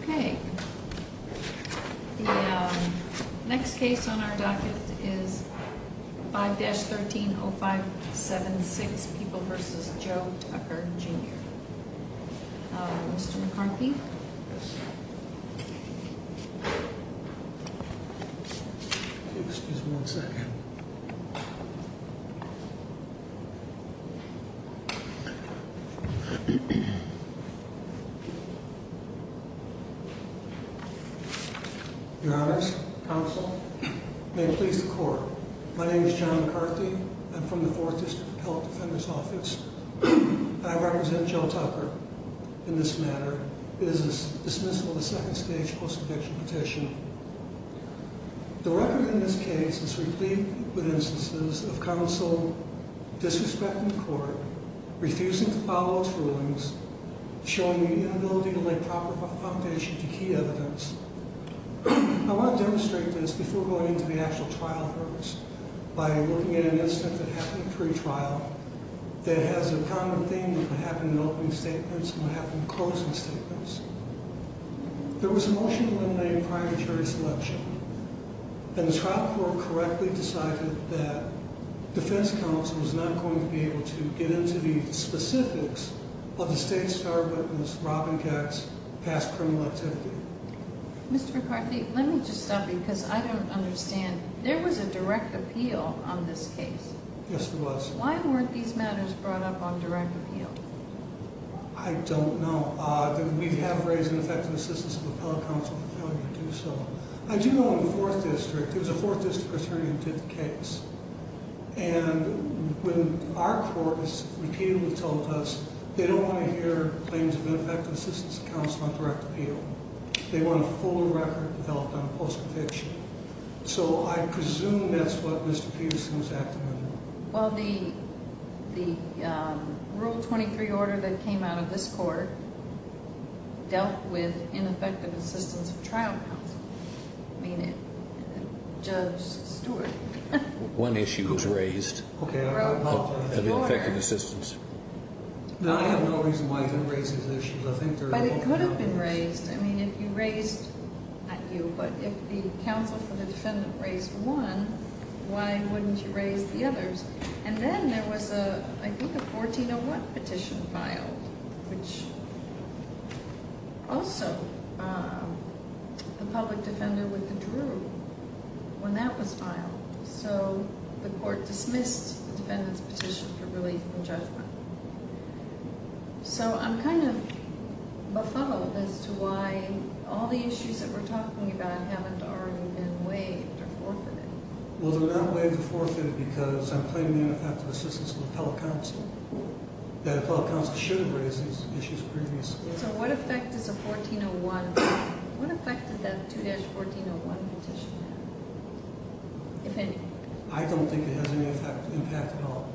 Okay, the next case on our docket is 5-130576 People v. Joe Tucker Jr. Mr. McCarthy? Yes. Excuse me one second. Your honors, counsel, may it please the court. My name is John McCarthy. I'm from the 4th District Appellate Defender's Office. I represent Joe Tucker in this matter. It is dismissal of the second stage post-addiction petition. The record in this case is replete with instances of counsel disrespecting the court, refusing to follow its rulings, showing the inability to lay proper foundation to key evidence. I want to demonstrate this before going into the actual trial hearts by looking at an incident that happened pre-trial that has a common theme of what happened in opening statements and what happened in closing statements. There was a motion to eliminate a prior jury selection, and the trial court correctly decided that defense counsel was not going to be able to get into the specifics of the state's charged witness, Robin Gatz, past criminal activity. Mr. McCarthy, let me just stop you because I don't understand. There was a direct appeal on this case. Yes, there was. Why weren't these matters brought up on direct appeal? I don't know. We have raised an effective assistance of appellate counsel to tell you to do so. I do know in the 4th District, there was a 4th District attorney who did the case, and when our court is repeated with telepaths, they don't want to hear claims of ineffective assistance of counsel on direct appeal. They want a fuller record developed on post-conviction. So I presume that's what Mr. Peterson was acting under. Well, the Rule 23 order that came out of this court dealt with ineffective assistance of trial counsel. I mean, Judge Stewart. One issue was raised of ineffective assistance. Now, I have no reason why you didn't raise these issues. But it could have been raised. I mean, if you raised, not you, but if the counsel for the defendant raised one, why wouldn't you raise the others? And then there was, I think, a 1401 petition filed, which also the public defender withdrew when that was filed. So the court dismissed the defendant's petition for release from judgment. So I'm kind of befuddled as to why all the issues that we're talking about haven't already been waived or forfeited. Well, they're not waived or forfeited because I'm claiming ineffective assistance of the appellate counsel. The appellate counsel should have raised these issues previously. So what effect does a 1401, what effect did that 2-1401 petition have, if any? I don't think it has any impact at all.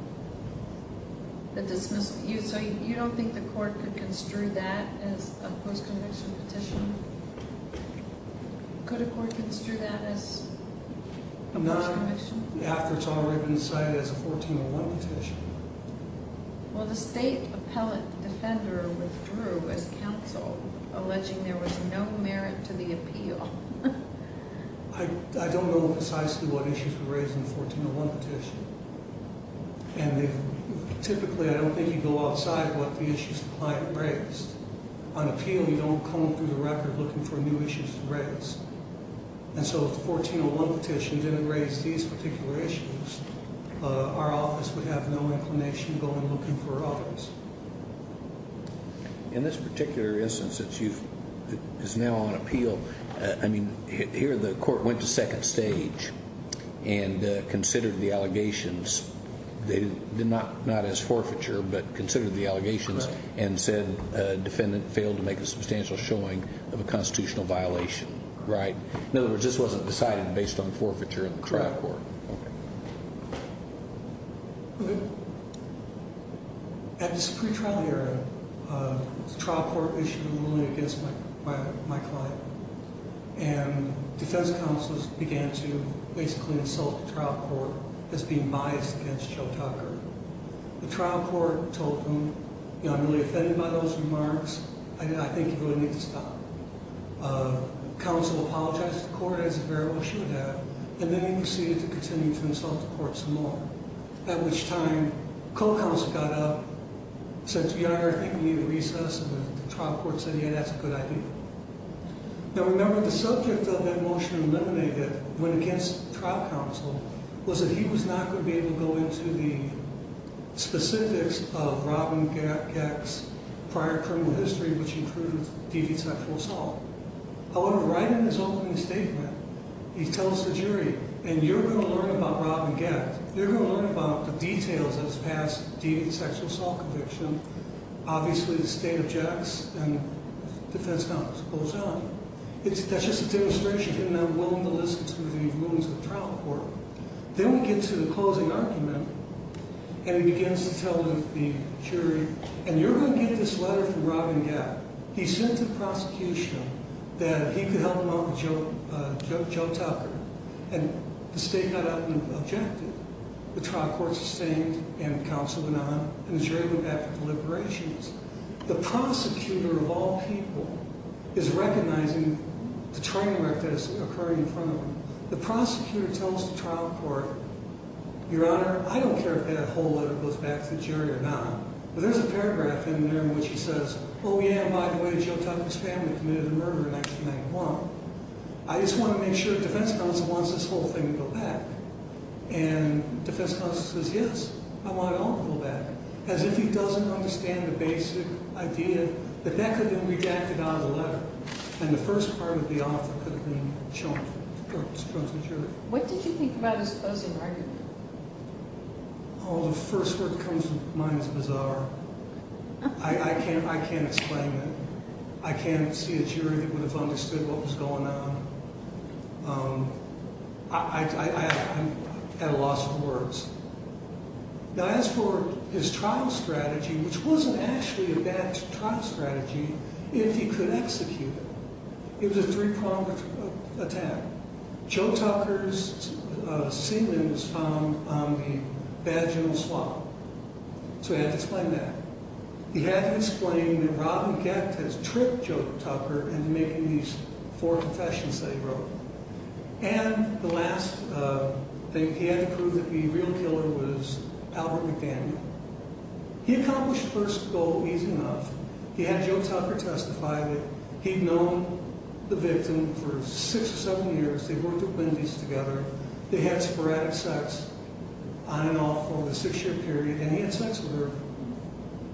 So you don't think the court could construe that as a post-conviction petition? Could a court construe that as a post-conviction? Not after it's already been cited as a 1401 petition. Well, the state appellate defender withdrew as counsel, alleging there was no merit to the appeal. I don't know precisely what issues were raised in the 1401 petition. And typically, I don't think you go outside what the issues the client raised. On appeal, you don't comb through the record looking for new issues to raise. And so if the 1401 petition didn't raise these particular issues, our office would have no inclination going looking for others. In this particular instance, it's now on appeal. I mean, here the court went to second stage and considered the allegations. Not as forfeiture, but considered the allegations and said defendant failed to make a substantial showing of a constitutional violation, right? In other words, this wasn't decided based on forfeiture in the trial court. Correct. Okay. At this pre-trial hearing, the trial court issued a ruling against my client. And defense counselors began to basically insult the trial court as being biased against Joe Tucker. The trial court told them, you know, I'm really offended by those remarks. I think you really need to stop. Counsel apologized to the court as it very well should have. And then he proceeded to continue to insult the court some more. At which time, co-counsel got up, said to the attorney, I think we need a recess. And the trial court said, yeah, that's a good idea. Now, remember, the subject of that motion eliminated when against trial counsel was that he was not going to be able to go into the specifics of Robin Geck's prior criminal history, which included deviant sexual assault. However, right in his opening statement, he tells the jury, and you're going to learn about Robin Geck. You're going to learn about the details of his past deviant sexual assault conviction. Obviously, the state objects, and defense counsel pulls out. That's just a demonstration. You're not willing to listen to the rulings of the trial court. Then we get to the closing argument, and he begins to tell the jury, and you're going to get this letter from Robin Geck. He sent it to the prosecution that he could help him out with Joe Tucker. And the state got up and objected. The trial court sustained, and counsel went on, and the jury went back for deliberations. The prosecutor of all people is recognizing the train wreck that is occurring in front of him. The prosecutor tells the trial court, Your Honor, I don't care if that whole letter goes back to the jury or not. But there's a paragraph in there in which he says, Oh, yeah, by the way, Joe Tucker's family committed a murder in 1991. I just want to make sure defense counsel wants this whole thing to go back. And defense counsel says, Yes, I want it all to go back. As if he doesn't understand the basic idea that that could have been redacted out of the letter, and the first part of the offer could have been chosen by the jury. What did you think about his closing argument? Oh, the first word that comes to mind is bizarre. I can't explain it. I can't see a jury that would have understood what was going on. I'm at a loss for words. Now, as for his trial strategy, which wasn't actually a bad trial strategy, if he could execute it, it was a three-pronged attack. Joe Tucker's sealant was found on the vaginal swab. So he had to explain that. He had to explain that Robin Gett has tricked Joe Tucker into making these four confessions that he wrote. And the last thing he had to prove to be a real killer was Albert McDaniel. He accomplished the first goal easy enough. He had Joe Tucker testify that he'd known the victim for six or seven years. They worked at Wendy's together. They had sporadic sex on and off over the six-year period. And he had sex with her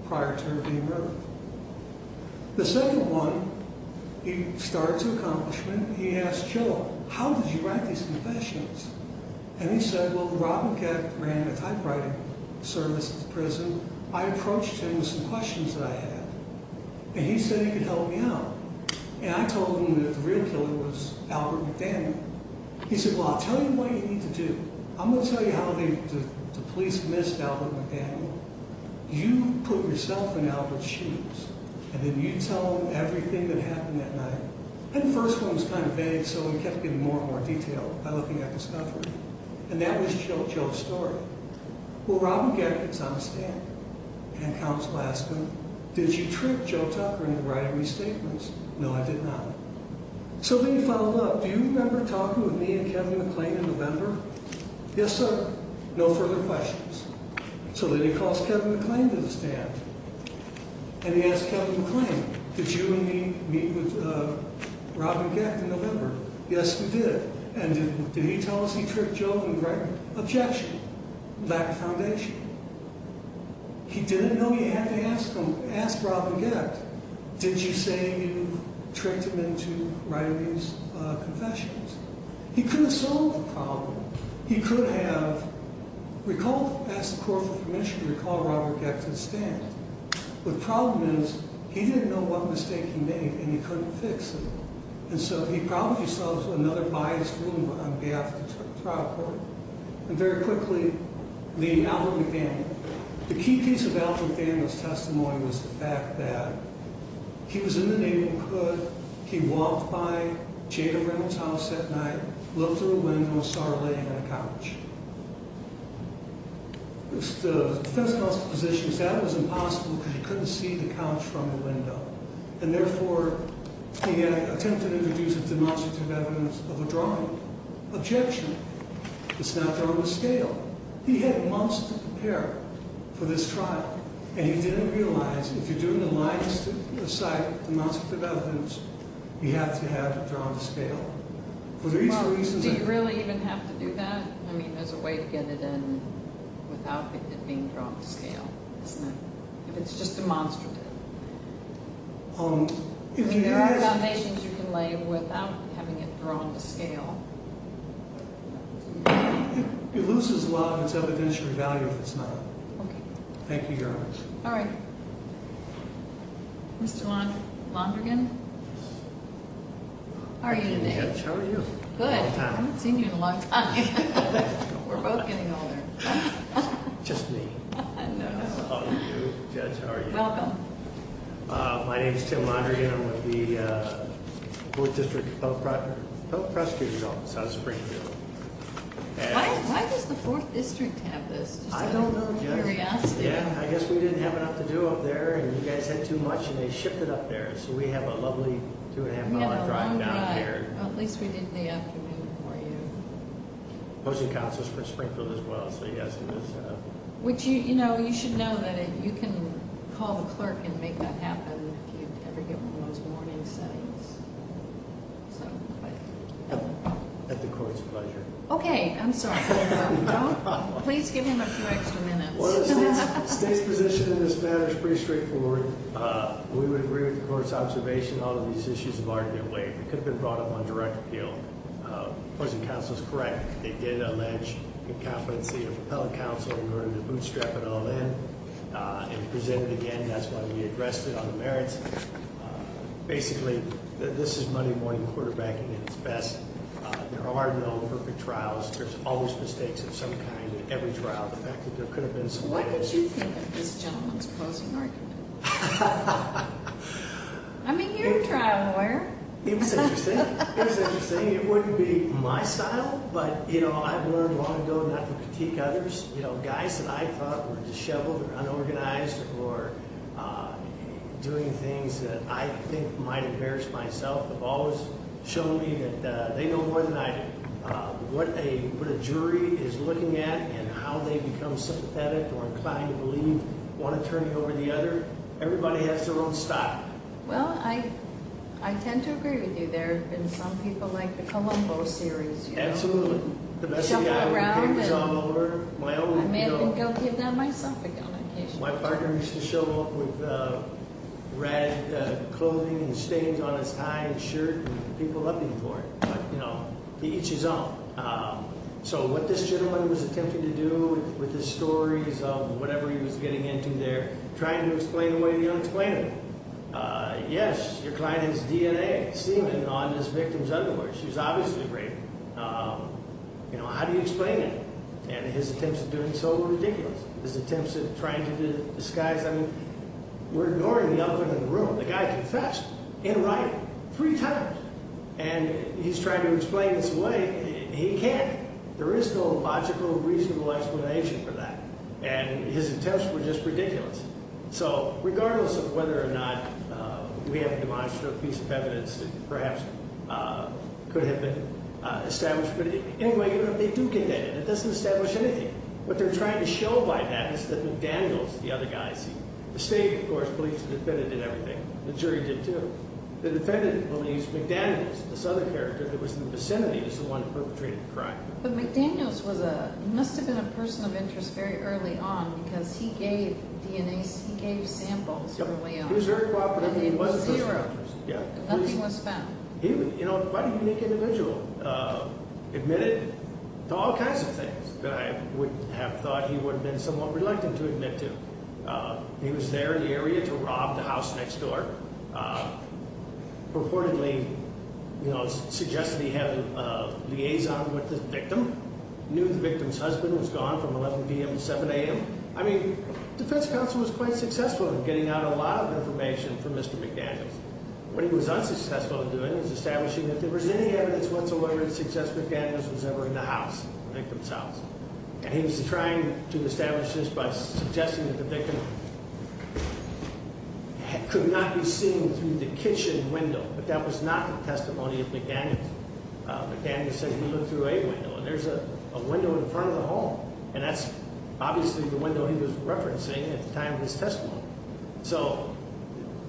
prior to her being murdered. The second one, he started to accomplish it. And he asked Joe, how did you write these confessions? And he said, well, Robin Gett ran a typewriting service at the prison. I approached him with some questions that I had. And he said he could help me out. And I told him that the real killer was Albert McDaniel. He said, well, I'll tell you what you need to do. I'm going to tell you how the police missed Albert McDaniel. You put yourself in Albert's shoes, and then you tell him everything that happened that night. And the first one was kind of vague, so we kept getting more and more detailed by looking at discovery. And that was Joe's story. Well, Robin Gett gets on a stand, and counsel asks him, did you trick Joe Tucker into writing these statements? No, I did not. So then he followed up. Do you remember talking with me and Kevin McClain in November? Yes, sir. No further questions. So then he calls Kevin McClain to the stand. And he asks Kevin McClain, did you and me meet with Robin Gett in November? Yes, we did. And did he tell us he tricked Joe into writing an objection? Lack of foundation. He didn't know he had to ask Robin Gett, did you say you tricked him into writing these confessions? He could have solved the problem. He could have asked the court for permission to recall Robin Gett to the stand. The problem is he didn't know what mistake he made, and he couldn't fix it. And so he found himself in another biased room on behalf of the trial court. And very quickly, the Albert McDaniel. The key piece of Albert McDaniel's testimony was the fact that he was in the neighborhood, he walked by Jada Reynolds' house at night, looked through a window and saw her laying on a couch. The defense counsel's position was that it was impossible because he couldn't see the couch from the window. And therefore, he attempted to introduce a demonstrative evidence of a drawing. Objection. It's not there on the scale. He had months to prepare for this trial. And he didn't realize if you're doing the lines to cite demonstrative evidence, you have to have it drawn to scale. Do you really even have to do that? I mean, there's a way to get it in without it being drawn to scale, isn't there? If it's just demonstrative. There are foundations you can lay without having it drawn to scale. It loses a lot of its evidentiary value if it's not. Okay. Thank you, Your Honor. All right. Mr. Londrigan? How are you today? Good, Judge. How are you? Good. I haven't seen you in a long time. We're both getting older. Just me. No, no. How are you, Judge? How are you? Welcome. My name is Tim Londrigan. I'm with the 4th District Appellate Prosecutor's Office out of Springfield. Why does the 4th District have this? I don't know, Judge. I guess we didn't have enough to do up there, and you guys had too much, and they shipped it up there. So we have a lovely two-and-a-half-hour drive down here. We have a long drive. Well, at least we did in the afternoon for you. Opposing counsel is from Springfield as well, so yes, it is. Which, you know, you should know that you can call the clerk and make that happen if you ever get one of those morning settings. At the court's pleasure. Okay. I'm sorry. Please give him a few extra minutes. Well, the state's position in this matter is pretty straightforward. We would agree with the court's observation. All of these issues have already been weighed. They could have been brought up on direct appeal. Opposing counsel is correct. They did allege the competency of appellate counsel in order to bootstrap it all in and present it again. That's why we addressed it on the merits. Basically, this is Monday morning quarterbacking at its best. There are no perfect trials. There's always mistakes of some kind in every trial. The fact that there could have been some errors. What did you think of this gentleman's closing argument? I mean, you're a trial lawyer. It was interesting. It was interesting. It wouldn't be my style, but, you know, I've learned long ago not to critique others. You know, guys that I thought were disheveled or unorganized or doing things that I think might embarrass myself have always shown me that they know more than I do. What a jury is looking at and how they become sympathetic or inclined to believe one attorney over the other, everybody has their own style. Well, I tend to agree with you. There have been some people like the Colombo series, you know. Absolutely. Shuffle around and I may think I'll give that myself again occasionally. My partner used to show up with ragged clothing and stains on his tie and shirt and people looking for it. But, you know, he eats his own. So what this gentleman was attempting to do with his stories of whatever he was getting into there, trying to explain away the unexplained. Yes, your client has DNA semen on his victim's underwear. She was obviously raped. You know, how do you explain it? And his attempts at doing so were ridiculous. His attempts at trying to disguise them. We're ignoring the elephant in the room. The guy confessed in writing three times. And he's trying to explain his way. He can't. There is no logical, reasonable explanation for that. And his attempts were just ridiculous. So regardless of whether or not we have a demonstrative piece of evidence that perhaps could have been established. But anyway, they do condemn it. It doesn't establish anything. What they're trying to show by that is that McDaniels, the other guy, the state, of course, believes the defendant did everything. The jury did too. The defendant believes McDaniels, this other character that was in the vicinity, is the one that perpetrated the crime. But McDaniels must have been a person of interest very early on because he gave DNA samples early on. He was very cooperative. He was a person of interest. Nothing was found. He was quite a unique individual. Admitted to all kinds of things that I would have thought he would have been somewhat reluctant to admit to. He was there in the area to rob the house next door. Purportedly, you know, suggested he have a liaison with the victim. Knew the victim's husband was gone from 11 p.m. to 7 a.m. I mean, defense counsel was quite successful in getting out a lot of information from Mr. McDaniels. What he was unsuccessful in doing was establishing that if there was any evidence whatsoever that suggests McDaniels was ever in the house, the victim's house. And he was trying to establish this by suggesting that the victim could not be seen through the kitchen window. But that was not the testimony of McDaniels. McDaniels said he looked through a window, and there's a window in front of the hall. And that's obviously the window he was referencing at the time of his testimony. So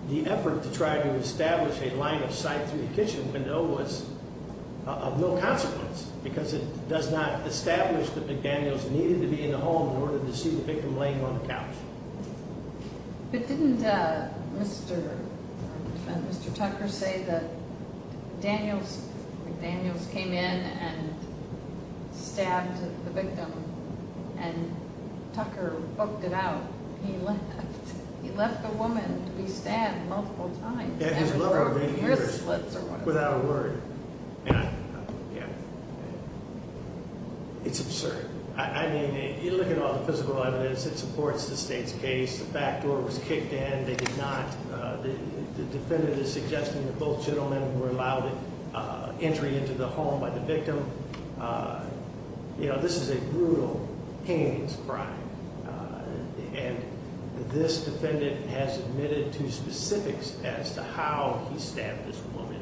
the effort to try to establish a line of sight through the kitchen window was of no consequence because it does not establish that McDaniels needed to be in the home in order to see the victim laying on the couch. But didn't Mr. Tucker say that McDaniels came in and stabbed the victim and Tucker booked it out? He left a woman to be stabbed multiple times. And his lover ran here without a word. It's absurd. I mean, you look at all the physical evidence that supports the state's case. The back door was kicked in. They did not. The defendant is suggesting that both gentlemen were allowed entry into the home by the victim. You know, this is a brutal, heinous crime. And this defendant has admitted to specifics as to how he stabbed this woman,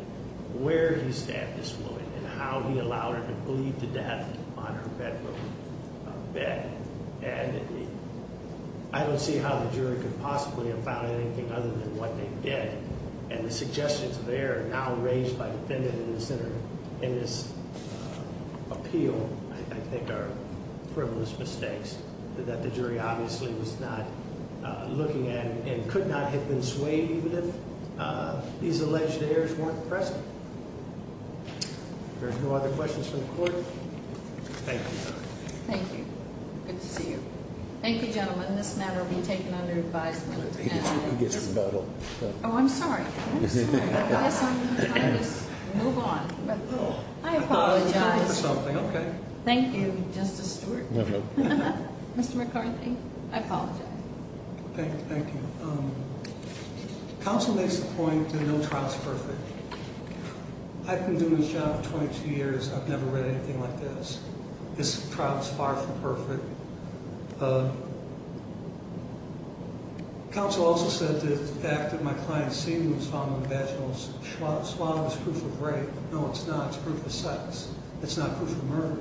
where he stabbed this woman, and how he allowed her to bleed to death on her bedroom bed. And I don't see how the jury could possibly have found anything other than what they did. And the suggestions there are now raised by the defendant and the senator. And his appeal, I think, are frivolous mistakes that the jury obviously was not looking at and could not have been swayed even if these alleged errors weren't present. If there are no other questions from the court, thank you. Thank you. Good to see you. Thank you, gentlemen. This matter will be taken under advisement. Oh, I'm sorry. I guess I'm going to try to just move on. I apologize. Thank you, Justice Stewart. Mr. McCarthy, I apologize. Thank you. Counsel makes the point that no trial is perfect. I've been doing this job for 22 years. I've never read anything like this. This trial is far from perfect. Counsel also said that the fact that my client's semen was found in the vaginal swab is proof of rape. No, it's not. It's proof of sex. It's not proof of murder.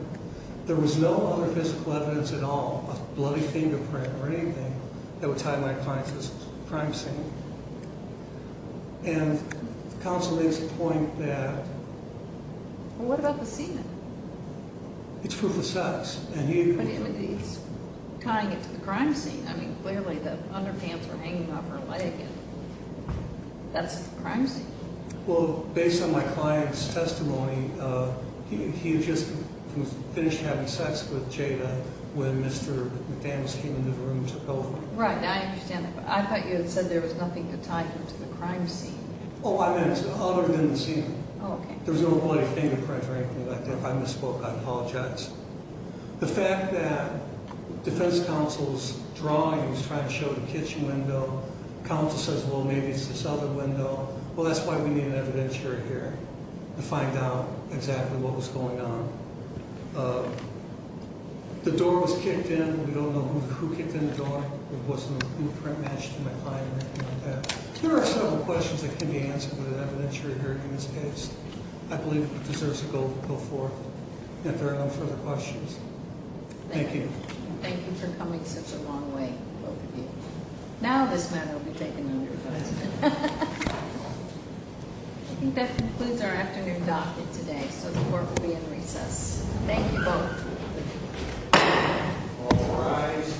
There was no other physical evidence at all, a bloody fingerprint or anything, that would tie my client to this crime scene. And counsel makes the point that... Well, what about the semen? It's proof of sex. But it's tying it to the crime scene. I mean, clearly the underpants were hanging off her leg, and that's the crime scene. Well, based on my client's testimony, he just finished having sex with Jada when Mr. McDaniels came into the room and took over. Right, I understand that. But I thought you had said there was nothing to tie him to the crime scene. Oh, I meant other than the semen. Oh, okay. There was no bloody fingerprint or anything like that. If I misspoke, I apologize. The fact that defense counsel's drawing was trying to show the kitchen window, counsel says, well, maybe it's this other window. Well, that's why we need an evidentiary hearing to find out exactly what was going on. The door was kicked in. We don't know who kicked in the door. It wasn't an imprint matched to my client or anything like that. There are several questions that can be answered with an evidentiary hearing in this case. I believe it deserves to go forth if there are no further questions. Thank you. Thank you for coming such a long way, both of you. Now this matter will be taken under consideration. I think that concludes our afternoon docket today, so the court will be in recess. Thank you both. All rise.